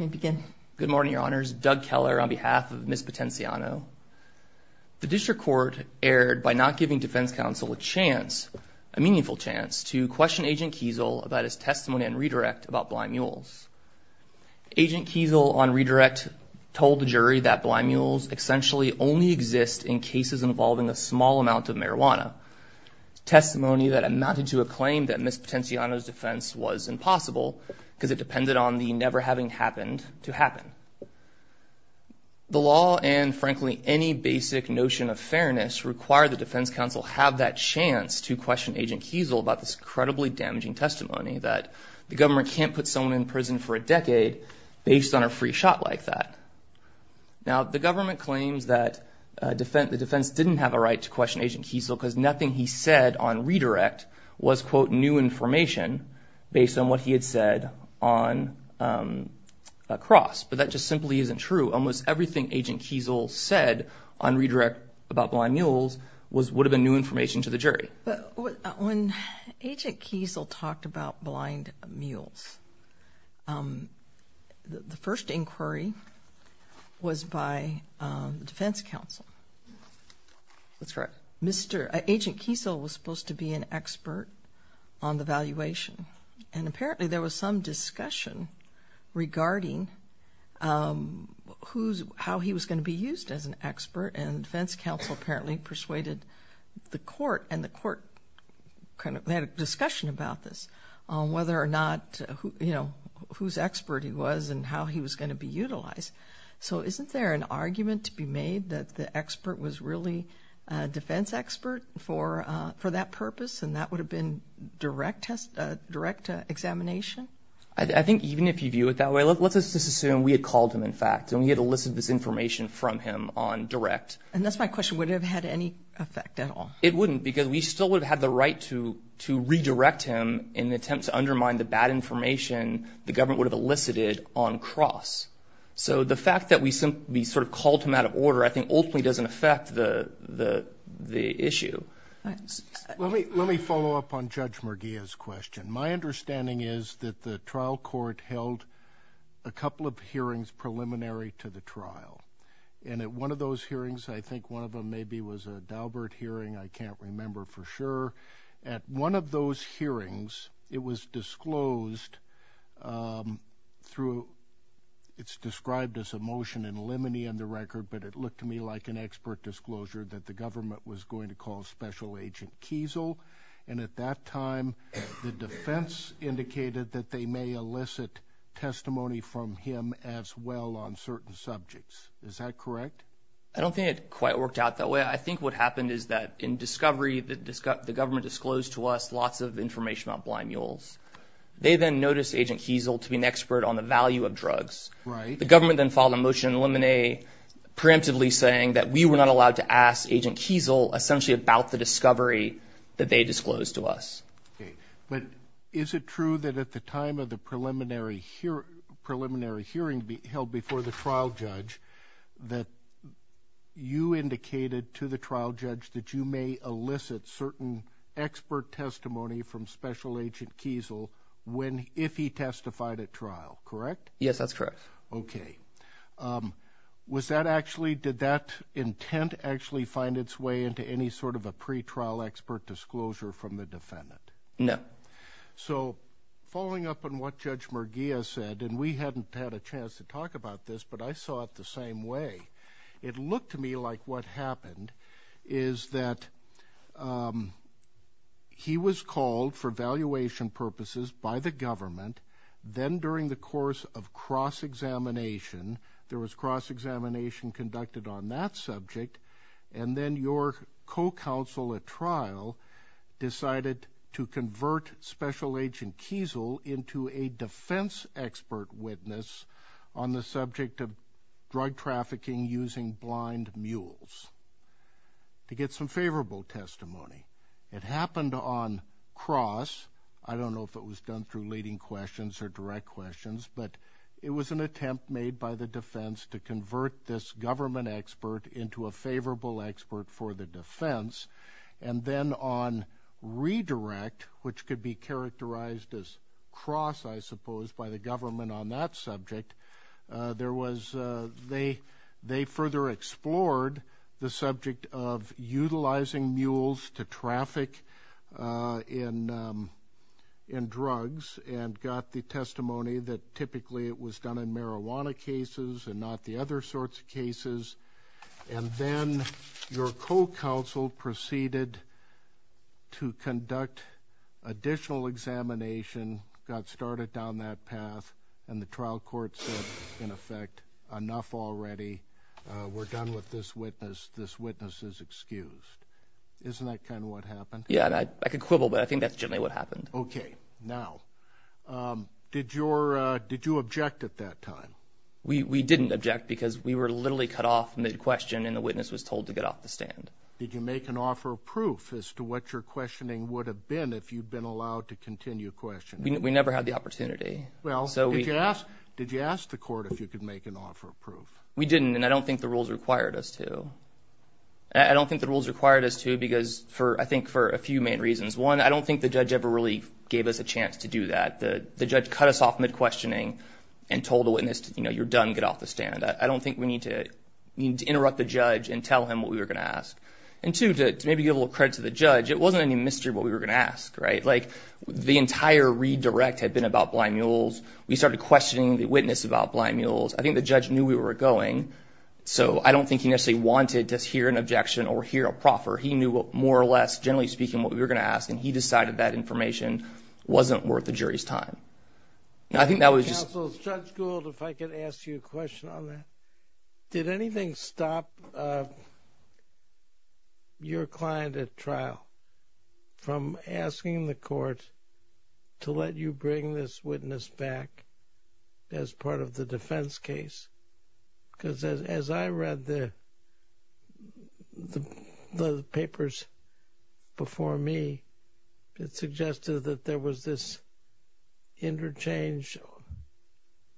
Good morning, your honors. Doug Keller on behalf of Ms. Potenciano. The District Court erred by not giving defense counsel a chance, a meaningful chance, to question Agent Kiesel about his testimony and redirect about blind mules. Agent Kiesel on redirect told the jury that blind mules essentially only exist in cases involving a small amount of marijuana. Testimony that amounted to a claim that Ms. Potenciano's defense was impossible because it depended on the never-having-happened to happen. The law and frankly any basic notion of fairness require the defense counsel have that chance to question Agent Kiesel about this incredibly damaging testimony that the government can't put someone in prison for a decade based on a free shot like that. Now the government claims that the defense didn't have a right to question Agent Kiesel because nothing he said on redirect was quote new information based on what he had said on a cross, but that just simply isn't true. Almost everything Agent Kiesel said on redirect about blind mules was would have been new information to the jury. When Agent Kiesel talked about blind mules, the first inquiry was by the defense counsel. That's correct. Agent Kiesel was supposed to be an expert, but there was some discussion regarding how he was going to be used as an expert and defense counsel apparently persuaded the court and the court kind of had a discussion about this on whether or not, you know, whose expert he was and how he was going to be utilized. So isn't there an argument to be made that the expert was really a defense expert for that purpose and that would have been direct examination? I think even if you view it that way, let's just assume we had called him in fact and we had elicited this information from him on direct. And that's my question, would have had any effect at all? It wouldn't because we still would have had the right to redirect him in an attempt to undermine the bad information the government would have elicited on cross. So the fact that we sort of called him out of order I doesn't affect the issue. Let me follow up on Judge Merguia's question. My understanding is that the trial court held a couple of hearings preliminary to the trial and at one of those hearings, I think one of them maybe was a Daubert hearing, I can't remember for sure, at one of those hearings it was disclosed through, it's described as a motion in limine on the record, but it looked to me like an expert disclosure that the government was going to call special agent Kiesel and at that time the defense indicated that they may elicit testimony from him as well on certain subjects. Is that correct? I don't think it quite worked out that way. I think what happened is that in discovery that the government disclosed to us lots of information about blind mules. They then noticed agent Kiesel to be an expert on the value of drugs. The government then followed a motion in limine preemptively saying that we were not allowed to ask agent Kiesel essentially about the discovery that they disclosed to us. Okay, but is it true that at the time of the preliminary preliminary hearing held before the trial judge that you indicated to the trial judge that you may elicit certain expert testimony from special agent Kiesel when, if he testified at trial, correct? Yes, that's correct. Okay, was that actually, did that intent actually find its way into any sort of a pretrial expert disclosure from the defendant? No. So following up on what Judge Merguia said, and we hadn't had a chance to talk about this, but I saw it the same way. It looked to me like what happened is that he was called for evaluation purposes by the government, then during the course of cross examination, there was cross examination conducted on that subject, and then your co-counsel at trial decided to convert special agent Kiesel into a defense expert witness on the subject of drug trafficking using blind mules to get some favorable testimony. It happened on cross. I don't know if it was done through leading questions or direct questions, but it was an attempt made by the defense to convert this government expert into a favorable expert for the defense, and then on redirect, which could be characterized as cross, I suppose, by the government on that subject, there was, they further explored the subject of utilizing mules to traffic in drugs and got the testimony that typically it was done in marijuana cases and not the other sorts of cases, and then your co-counsel proceeded to conduct additional examination, got started down that path, and the trial court said, in effect, enough already. We're done with this witness. This witness is excused. Isn't that kind of what happened? Yeah, I could quibble, but I think that's generally what happened. Okay, now, did you object at that time? We didn't object because we were literally cut off mid-question and the witness was told to get off the stand. Did you make an offer of proof as to what your questioning would have been if you'd been allowed to continue questioning? We never had the opportunity. Well, did you ask the court if you could make an offer of proof? We didn't, and I don't think the rules required us to. I don't think the rules required us to because, I think, for a few main reasons. One, I don't think the judge ever really gave us a chance to do that. The judge cut us off mid-questioning and told the witness, you know, you're done, get off the stand. I don't think we need to interrupt the judge and tell him what we were gonna ask. And two, to maybe give a little credit to the judge, it wasn't any mystery what we were gonna ask, right? Like, the entire redirect had been about blind mules. We started questioning the witness about blind mules. I think the judge knew we were going, so I don't think he necessarily wanted to hear an objection or hear a proffer. He knew, more or less, generally speaking, what we were gonna ask, and he decided that information wasn't worth the jury's time. I think that was just... Counsel, Judge Gould, if I could ask you a question on that. Did anything stop your client at trial from asking the court to let you bring this witness back as part of the defense case? Because as I read the papers before me, it suggested that there was this interchange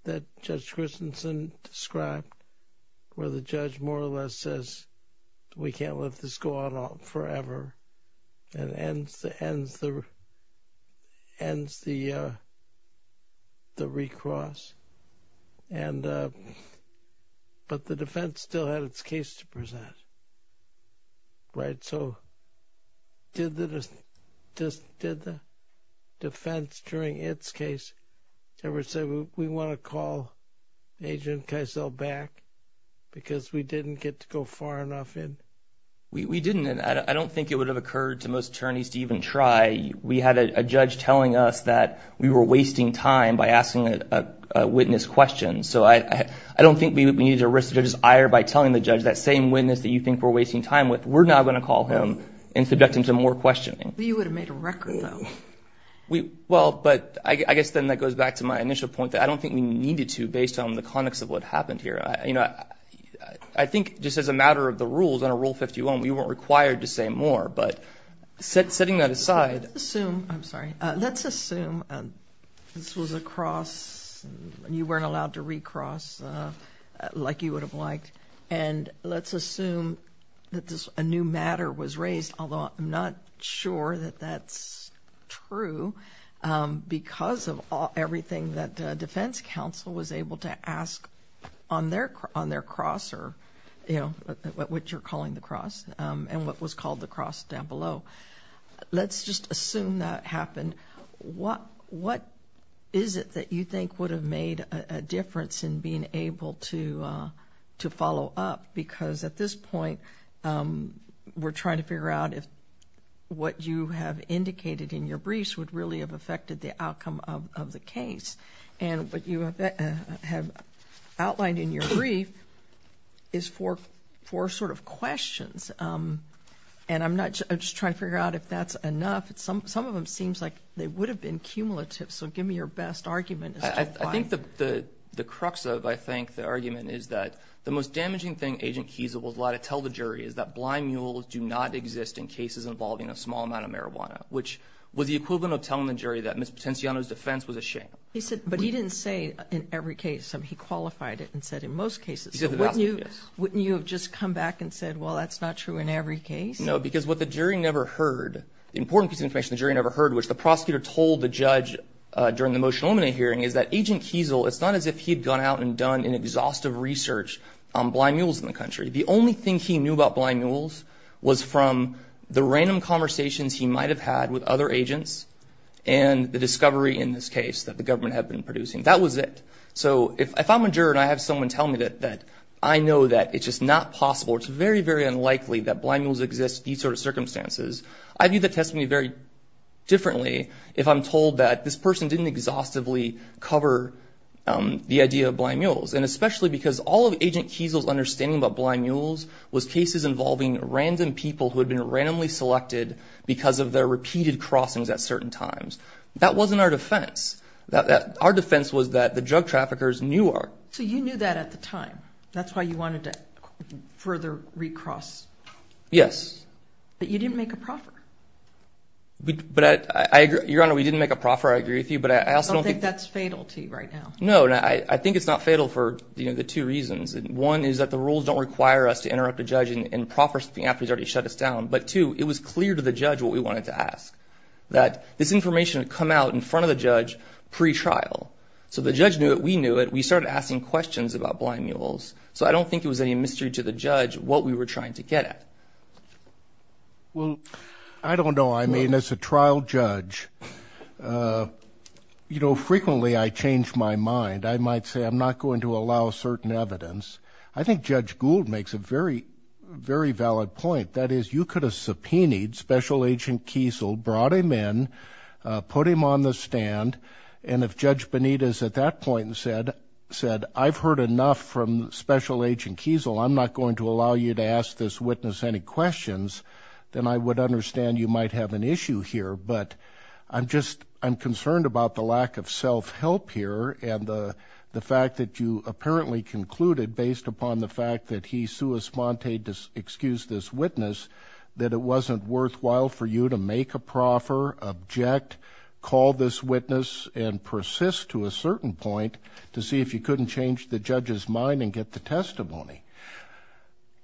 that Judge Christensen described, where the judge more or less says, we can't let this go on forever, and ends the recross, but the defense still had its case to present, right? So, did the defense, during its case, ever say, we want to call Agent Keisel back, because we didn't get to go far enough in? We didn't, and I don't think it would have occurred to most attorneys to even try. We had a judge telling us that we were wasting time by asking a witness questions, so I don't think we need to risk the judge's ire by telling the judge that same witness that you think we're wasting time with, we're not gonna call him and subject him to more questioning. You would have made a record, though. Well, but I guess then that goes back to my initial point that I don't think we needed to, based on the context of what happened here. You know, I think just as a matter of the rules, under Rule 51, we weren't required to say more, but setting that aside... Let's assume this was a cross, and you weren't allowed to recross like you would have liked, and let's assume that a new matter was raised, although I'm not sure that that's true, because of everything that defense counsel was able to ask on their cross, or, you know, what you're calling the cross, and what was called the cross down below. Let's just assume that happened. What is it that you think would have made a We're trying to figure out if what you have indicated in your briefs would really have affected the outcome of the case, and what you have outlined in your brief is four sort of questions, and I'm not just trying to figure out if that's enough. Some of them seems like they would have been cumulative, so give me your best argument. I think the crux of, I think, the argument is that the most damaging thing Agent Kiesel was allowed to tell the jury was that the most damaging things do not exist in cases involving a small amount of marijuana, which was the equivalent of telling the jury that Ms. Potenciano's defense was a shame. He said, but he didn't say in every case. I mean, he qualified it and said in most cases. He said the last case. Wouldn't you have just come back and said, well, that's not true in every case? No, because what the jury never heard, the important piece of information the jury never heard, which the prosecutor told the judge during the motion to eliminate hearing, is that Agent Kiesel, it's not as if he'd gone out and done an exhaustive research on blind mules in the country. The only thing he knew about blind mules was from the random conversations he might have had with other agents and the discovery in this case that the government had been producing. That was it. So if I'm a juror and I have someone tell me that I know that it's just not possible, it's very, very unlikely that blind mules exist in these sort of circumstances, I view the testimony very differently if I'm told that this person didn't exhaustively cover the idea of blind mules. And especially because all of Agent Kiesel's understanding about blind mules was cases involving random people who had been randomly selected because of their repeated crossings at certain times. That wasn't our defense. Our defense was that the drug traffickers knew our... So you knew that at the time. That's why you wanted to further recross. Yes. But you didn't make a proffer. But I agree, Your Honor, we didn't make a proffer, I agree with you, but I also don't think... I don't think that's fatal to you right now. No, I think it's not fatal for, you know, the two reasons. One is that the rules don't require us to interrupt a judge in proffers after he's already shut us down. But two, it was clear to the judge what we wanted to ask. That this information had come out in front of the judge pre-trial. So the judge knew it, we knew it, we started asking questions about blind mules. So I don't think it was any mystery to the judge what we were trying to get at. Well, I don't know. I mean, as a trial judge, you know, frequently I change my mind. I might say I'm not going to allow certain evidence. I think Judge Gould makes a very, very valid point. That is, you could have subpoenaed Special Agent Kiesel, brought him in, put him on the stand, and if Judge Benitez at that point said, I've heard enough from Special Agent Kiesel, I'm not going to allow you to ask this witness any questions, then I would understand you might have an issue here. But I'm just, I'm concerned about the lack of self-help here and the fact that you apparently concluded, based upon the fact that he sua sponte excused this witness, that it wasn't worthwhile for you to make a proffer, object, call this witness, and persist to a certain point to see if you couldn't change the judge's mind and get the testimony.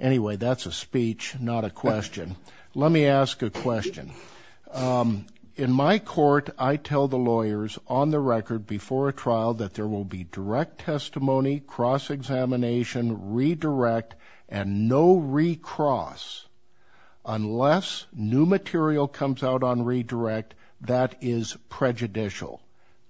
Anyway, that's a speech, not a question. Let me ask a question. In my court, I tell the jury on the record, before a trial, that there will be direct testimony, cross-examination, redirect, and no recross, unless new material comes out on redirect, that is prejudicial.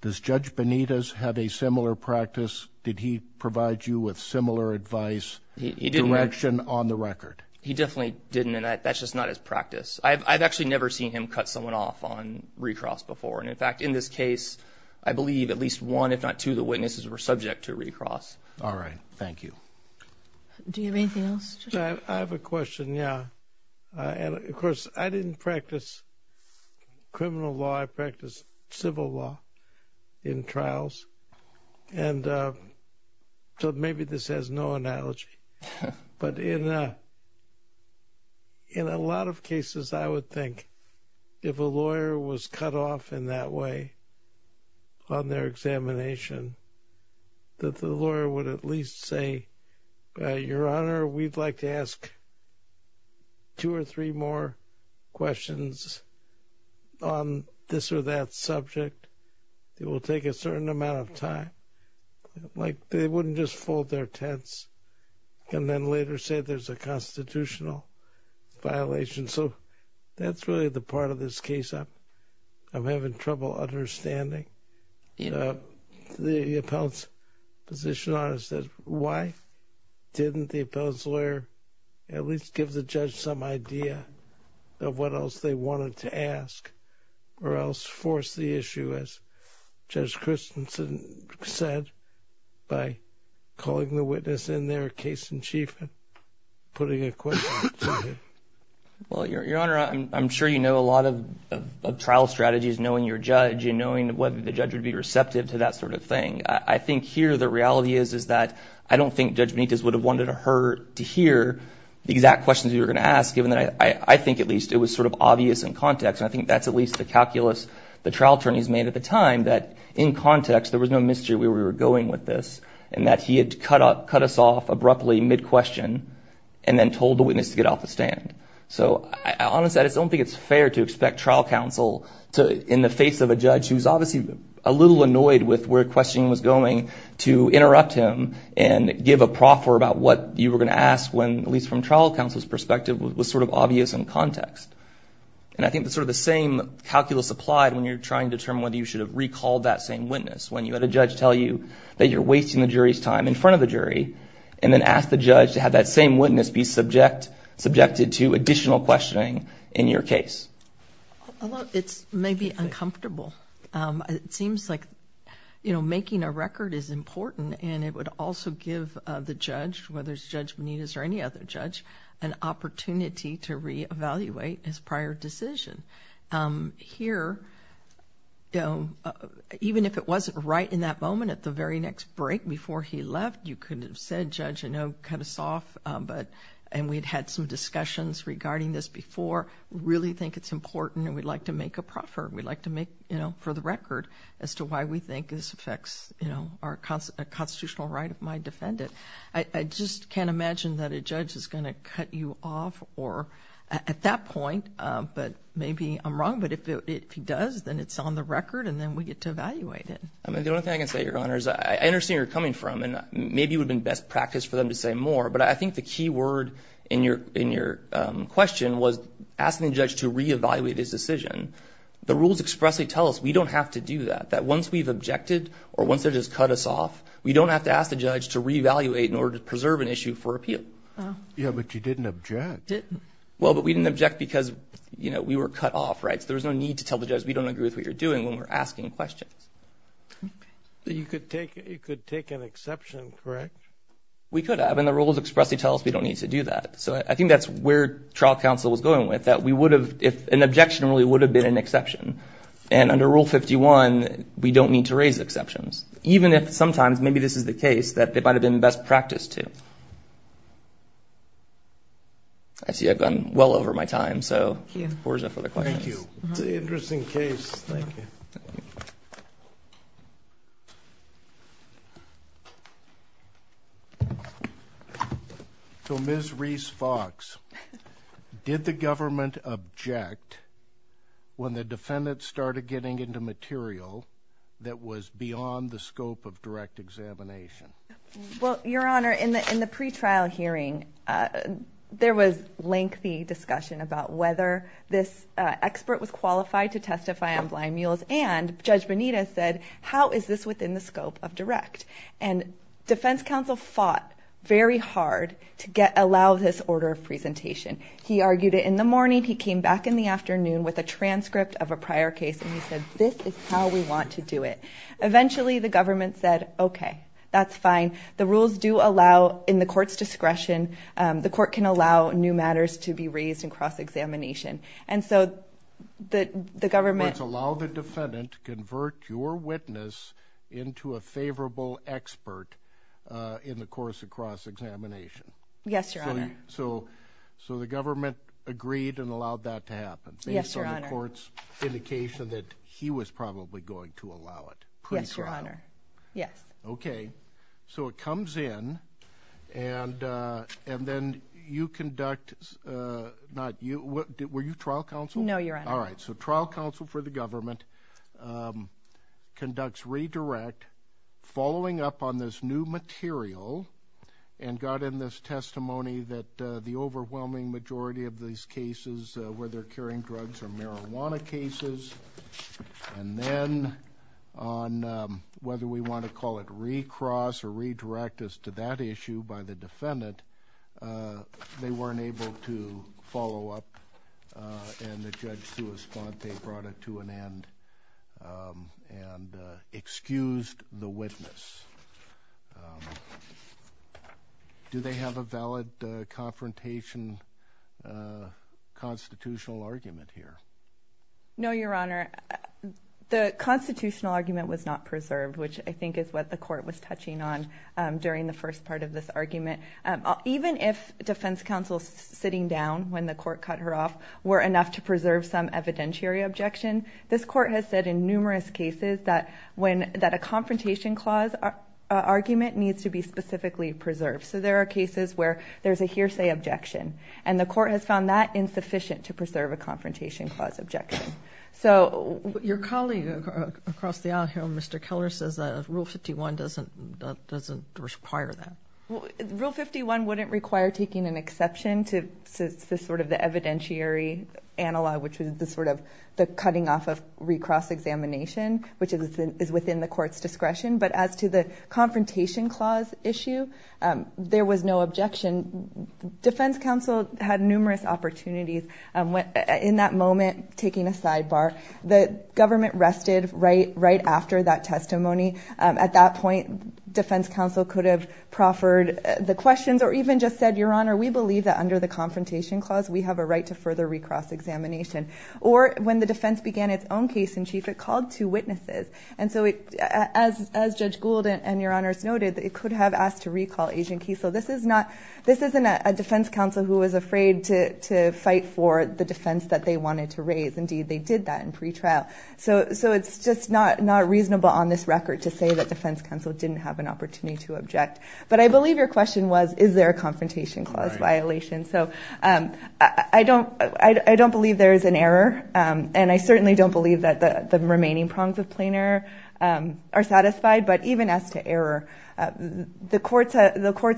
Does Judge Benitez have a similar practice? Did he provide you with similar advice, direction on the record? He definitely didn't, and that's just not his practice. I've actually never seen him cut someone off on recross before, and in fact, in this case, I believe at least one, if not two, the witnesses were subject to recross. All right, thank you. Do you have anything else? I have a question, yeah. And of course, I didn't practice criminal law, I practiced civil law in trials, and so maybe this has no analogy, but in a lot of cases, I would think if a lawyer was cut off in that way on their examination, that the lawyer would at least say, Your Honor, we'd like to ask two or three more questions on this or that subject. It will take a certain amount of time. Like, they wouldn't just fold their tents and then later say there's a constitutional violation. So that's really the part of this case I'm having trouble understanding. The appellant's position on it says, Why didn't the appellant's lawyer at least give the judge some idea of what else they wanted to ask or else force the issue, as Judge Christensen said, by calling the witness in there case in chief and putting a question to him. Well, Your Honor, I'm sure you know a lot of trial strategies, knowing your judge and knowing whether the judge would be receptive to that sort of thing. I think here the reality is that I don't think Judge Benitez would have wanted her to hear the exact questions you were going to ask, given that I think at least it was sort of obvious in context. I think that's at least the calculus the trial attorneys made at the time, that in context, there was no mystery where we were going with this and that he had cut us off abruptly mid-question and then told the witness to get off the stand. So I honestly don't think it's fair to expect trial counsel to, in the face of a judge who's obviously a little annoyed with where questioning was going, to interrupt him and give a proffer about what you were going to ask when, at least from trial counsel's perspective, was sort of obvious in context. And I think that's sort of the same calculus applied when you're trying to determine whether you should have recalled that same witness. When you had a judge tell you that you're wasting the jury's time in front of the jury and then ask the judge to have that same witness be subjected to additional questioning in your case. It's maybe uncomfortable. It seems like, you know, making a record is important and it would also give the judge, whether it's Judge Benitez or any other judge, an opportunity to re-evaluate his right in that moment at the very next break before he left. You could have said, Judge, you know, cut us off, but, and we'd had some discussions regarding this before, really think it's important and we'd like to make a proffer. We'd like to make, you know, for the record as to why we think this affects, you know, our constitutional right of my defendant. I just can't imagine that a judge is going to cut you off or, at that point, but maybe I'm wrong, but if he does, then it's on the record and then we get to evaluate it. I mean, the only thing I can say, Your Honor, is I understand where you're coming from and maybe it would have been best practice for them to say more, but I think the key word in your question was asking the judge to re-evaluate his decision. The rules expressly tell us we don't have to do that, that once we've objected or once they've just cut us off, we don't have to ask the judge to re-evaluate in order to preserve an issue for appeal. Yeah, but you didn't object. Well, but we didn't object because, you know, we were cut off, right? So there's no need to tell the judge we don't agree with what you're doing when we're asking questions. But you could take, you could take an exception, correct? We could have, and the rules expressly tell us we don't need to do that. So I think that's where trial counsel was going with, that we would have, if an objection really would have been an exception, and under Rule 51, we don't need to raise exceptions, even if sometimes, maybe this is the case, that it might have been best practice to. I see Thank you. So, Ms. Reese Fox, did the government object when the defendants started getting into material that was beyond the scope of direct examination? Well, Your Honor, in the pretrial hearing, there was lengthy discussion about whether this expert was qualified to testify on blind mules, and Judge Bonita said, how is this within the scope of direct? And Defense Counsel fought very hard to get, allow this order of presentation. He argued it in the morning, he came back in the afternoon with a transcript of a prior case, and he said, this is how we want to do it. Eventually, the government said, okay, that's fine. The rules do allow, in the court's discretion, the court can allow new cross-examination. And so, the government... So, it's allow the defendant to convert your witness into a favorable expert in the course of cross-examination. Yes, Your Honor. So, the government agreed and allowed that to happen, based on the court's indication that he was probably going to allow it. Yes, Your Honor. Yes. Okay. So, it comes in, and then you conduct, not you, were you trial counsel? No, Your Honor. All right. So, trial counsel for the government conducts redirect, following up on this new material, and got in this testimony that the overwhelming majority of these cases, whether curing drugs or marijuana cases, and then on whether we want to call it recross or redirect as to that issue by the defendant, they weren't able to follow up, and the judge to respond, they brought it to an end, and excused the witness. Do they have a valid confrontation constitutional argument here? No, Your Honor. The constitutional argument was not preserved, which I think is what the court was touching on during the first part of this argument. Even if defense counsel sitting down when the court cut her off were enough to preserve some evidentiary objection, this court has said in numerous cases that a confrontation clause argument needs to be specifically preserved. So, there are cases where there's a hearsay objection, and the court has found that insufficient to preserve a confrontation clause objection. Your colleague across the aisle here, Mr. Keller, says that Rule 51 doesn't require that. Rule 51 wouldn't require taking an exception to sort of the evidentiary analog, which is the sort of the cutting off of recross examination, which is within the court's discretion. But as to the confrontation clause issue, there was no objection. Defense counsel had numerous opportunities in that moment taking a sidebar. The government rested right after that testimony. At that point, defense counsel could have proffered the questions or even just said, Your Honor, we believe that under the confrontation clause, we have a right to further recross examination. Or when the defense began its own case in chief, it called two witnesses. And so, as Judge Gould and Your Honors noted, it could have asked to recall Agent Kiesel. This isn't a defense counsel who was afraid to fight for the defense that they wanted to raise. Indeed, they did that in pretrial. So, it's just not reasonable on this record to say that defense counsel didn't have an opportunity to object. But I believe your question was, is there a confrontation clause violation? So, I don't believe there's an error. And I certainly don't believe that the remaining prongs of plain error are satisfied. But even as to error, the courts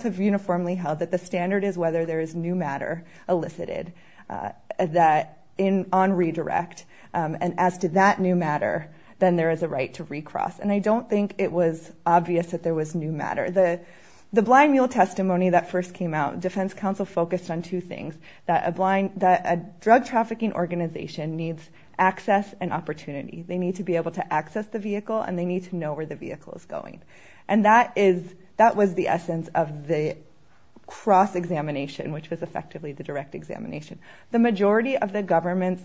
have uniformly held that the standard is whether there is new matter elicited on redirect. And as to that new matter, then there is a right to recross. And I don't think it was obvious that there was new matter. The blind mule testimony that first came out, defense counsel focused on two things, that a drug trafficking organization needs access and opportunity. They need to be able to access the vehicle and they need to know where the vehicle is going. And that was the essence of the cross examination, which was effectively the direct examination. The majority of the government's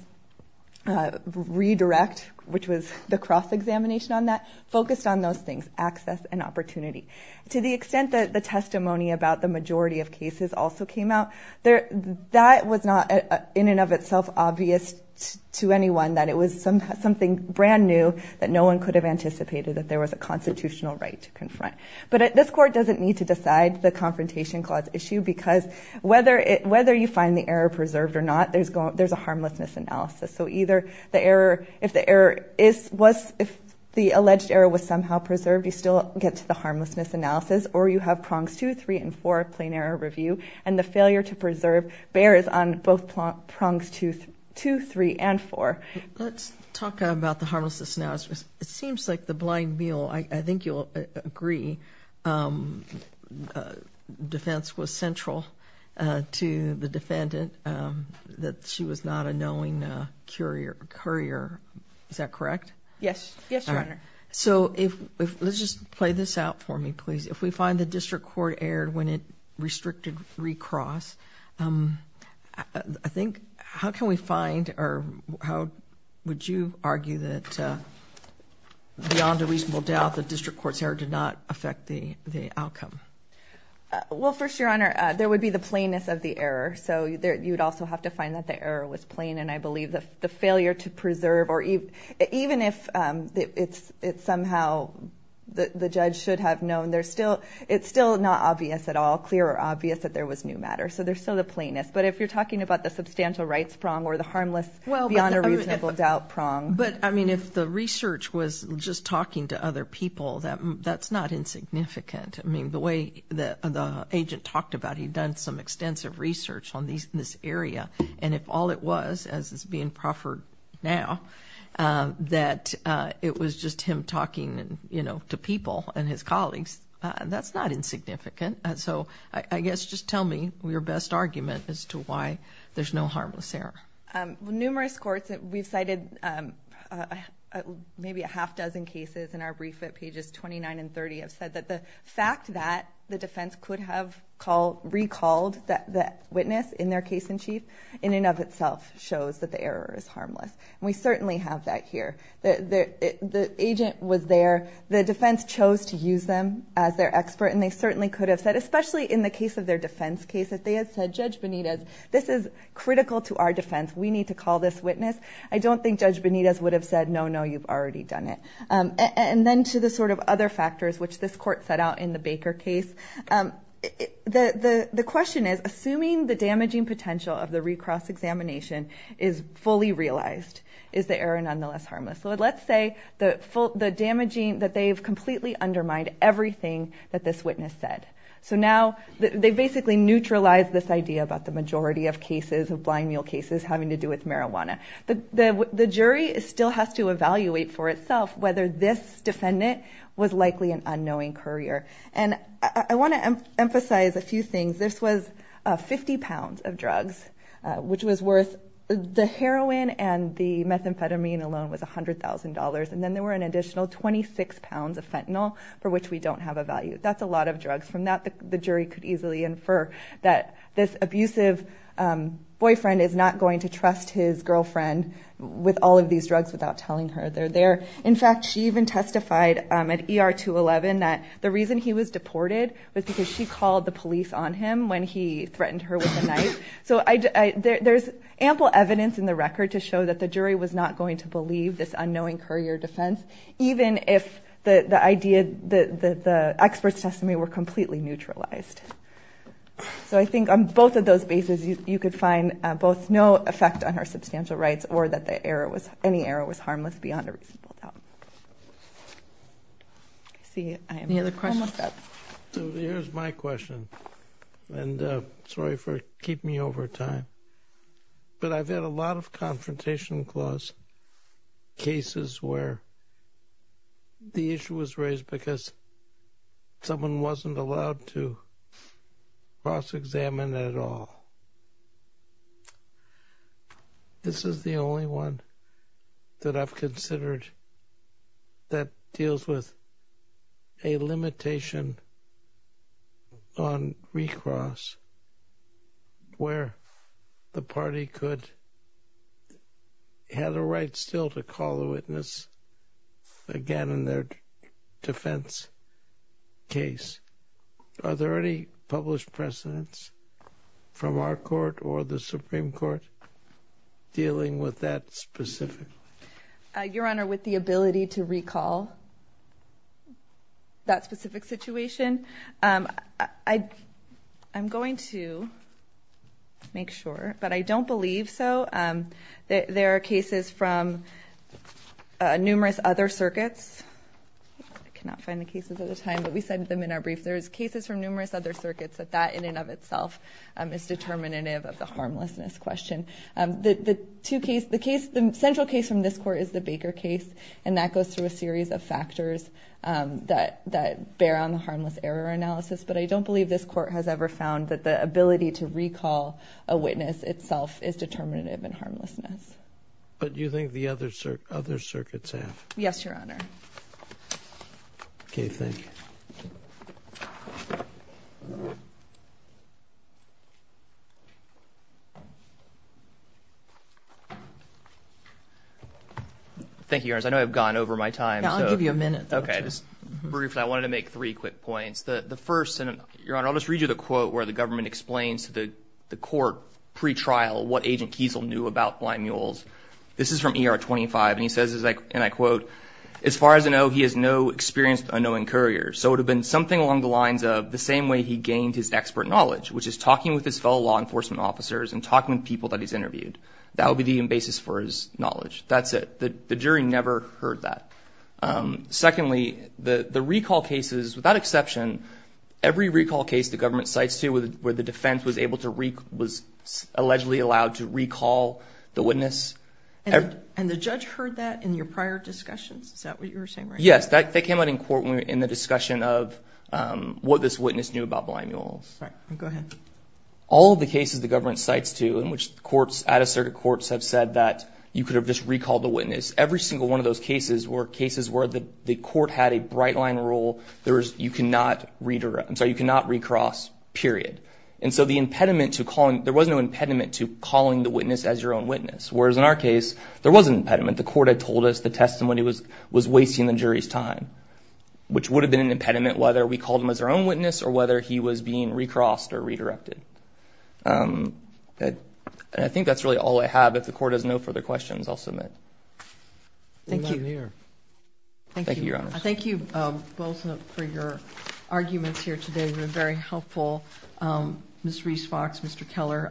redirect, which was the cross examination on that, focused on those things, access and opportunity. To the extent that the testimony about the majority of cases also came out, that was not in and of itself obvious to anyone that it was something brand new that no one could have anticipated that there was a constitutional right to confront. But this court doesn't need to decide the confrontation clause issue because whether you find the error preserved or not, there's a harmlessness analysis. So, if the alleged error was somehow preserved, you still get to the harmlessness analysis, or you have prongs two, three, and four plain error review. And the failure to preserve bears on both prongs two, three, and four. Let's talk about the harmlessness analysis. It seems like the blind mule, I think you'll agree, defense was central to the defendant, that she was not a courier. Is that correct? Yes. Yes, Your Honor. So, let's just play this out for me, please. If we find the district court error when it restricted recross, I think, how can we find, or how would you argue that beyond a reasonable doubt, the district court's error did not affect the outcome? Well, first, Your Honor, there would be the plainness of the error. So, you'd also have to and I believe the failure to preserve or even if it's somehow the judge should have known, it's still not obvious at all, clear or obvious that there was new matter. So, there's still the plainness. But if you're talking about the substantial rights prong or the harmless beyond a reasonable doubt prong. But, I mean, if the research was just talking to other people, that's not insignificant. I mean, the way the agent talked about, he'd done some it was, as is being proffered now, that it was just him talking to people and his colleagues. That's not insignificant. So, I guess, just tell me your best argument as to why there's no harmless error. Numerous courts that we've cited, maybe a half dozen cases in our brief at pages 29 and 30, have said that the fact that the defense could have recalled that witness in their case in chief, in and of itself, shows that the error is harmless. And we certainly have that here. The agent was there. The defense chose to use them as their expert. And they certainly could have said, especially in the case of their defense case, that they had said, Judge Benitez, this is critical to our defense. We need to call this witness. I don't think Judge Benitez would have said, no, no, you've already done it. And then to the sort of other factors, which this court set out in the Baker case, the question is, assuming the damaging potential of the recross examination is fully realized, is the error nonetheless harmless? So, let's say, the damaging, that they've completely undermined everything that this witness said. So, now, they basically neutralized this idea about the majority of cases, of blind mule cases, having to do with marijuana. The jury still has to evaluate for itself whether this defendant was likely an unknowing courier. And I want to emphasize a few things. This was 50 pounds of drugs, which was worth, the heroin and the methamphetamine alone was $100,000. And then there were an additional 26 pounds of fentanyl, for which we don't have a value. That's a lot of drugs. From that, the jury could easily infer that this abusive boyfriend is not going to trust his girlfriend with all of these drugs without telling her they're there. In fact, she even testified at ER 211 that the reason he was deported was because she called the police on him when he threatened her with a knife. So, there's ample evidence in the record to show that the jury was not going to believe this unknowing courier defense, even if the experts' testimony were completely neutralized. So, I think on both of those bases, you could find both no effect on her substantial rights, or that the error was, any error was harmless beyond a reasonable doubt. I see. Any other questions? So, here's my question. And sorry for keeping you over time. But I've had a lot of Confrontation Clause cases where the issue was raised because someone wasn't allowed to cross-examine at all. This is the only one that I've considered that deals with a limitation on recross where the party could have the right still to call the witness again in their defense case. Are there any published precedents from our court or the Supreme Court dealing with that specifically? Your Honor, with the ability to recall that specific situation, I'm going to make sure, but I don't believe so. There are cases from numerous other circuits. I cannot find the cases at the time, but we cited them in our brief. There's cases from numerous other circuits that that in and of itself is determinative of the harmlessness question. The central case from this court is the Baker case, and that goes through a series of factors that bear on the harmless error analysis. But I don't believe this court has ever found that the ability to recall a witness itself is determinative in harmlessness. But do you think the other circuits have? Yes, Your Honor. Okay, thank you. Thank you, Your Honor. I know I've gone over my time. Yeah, I'll give you a minute. Okay, just briefly, I wanted to make three quick points. The first, and Your Honor, I'll just read you the quote where the government explains to the court pre-trial what Agent Kiesel knew about blind mules. This is from ER 25, and he says, and I quote, as far as I know, he is no experienced unknowing courier. So it would have been something along the lines of the same way he gained his expert knowledge, which is talking with his fellow law enforcement officers and talking with people that he's interviewed. That would be the basis for his knowledge. That's it. The jury never heard that. Secondly, the recall cases, without exception, every recall case the government cites here where the defense was able to recall, was allegedly allowed to recall the witness. And the judge heard that in your prior discussions? Is that what you were saying right now? Yes, that came out in court when we were in the discussion of what this witness knew about blind mules. All right, go ahead. All of the cases the government cites, too, in which courts, out-of-circuit courts have said that you could have just recalled the witness, every single one of those cases were cases where the court had a bright line rule. You cannot read across, period. And so the impediment to calling, there was no impediment to calling the witness as your own witness. Whereas in our case, there was an impediment. The court had told us the testimony was wasting the jury's time, which would have been an impediment whether we called him as our own witness or whether he was being recrossed or redirected. And I think that's really all I have. If the court has no further questions, I'll submit. Thank you, Your Honor. Thank you both for your arguments here today. They've been very helpful. Ms. Reese-Fox, Mr. Keller,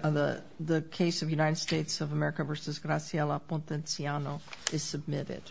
the case of United States of America v. Graciela Potenciano is submitted.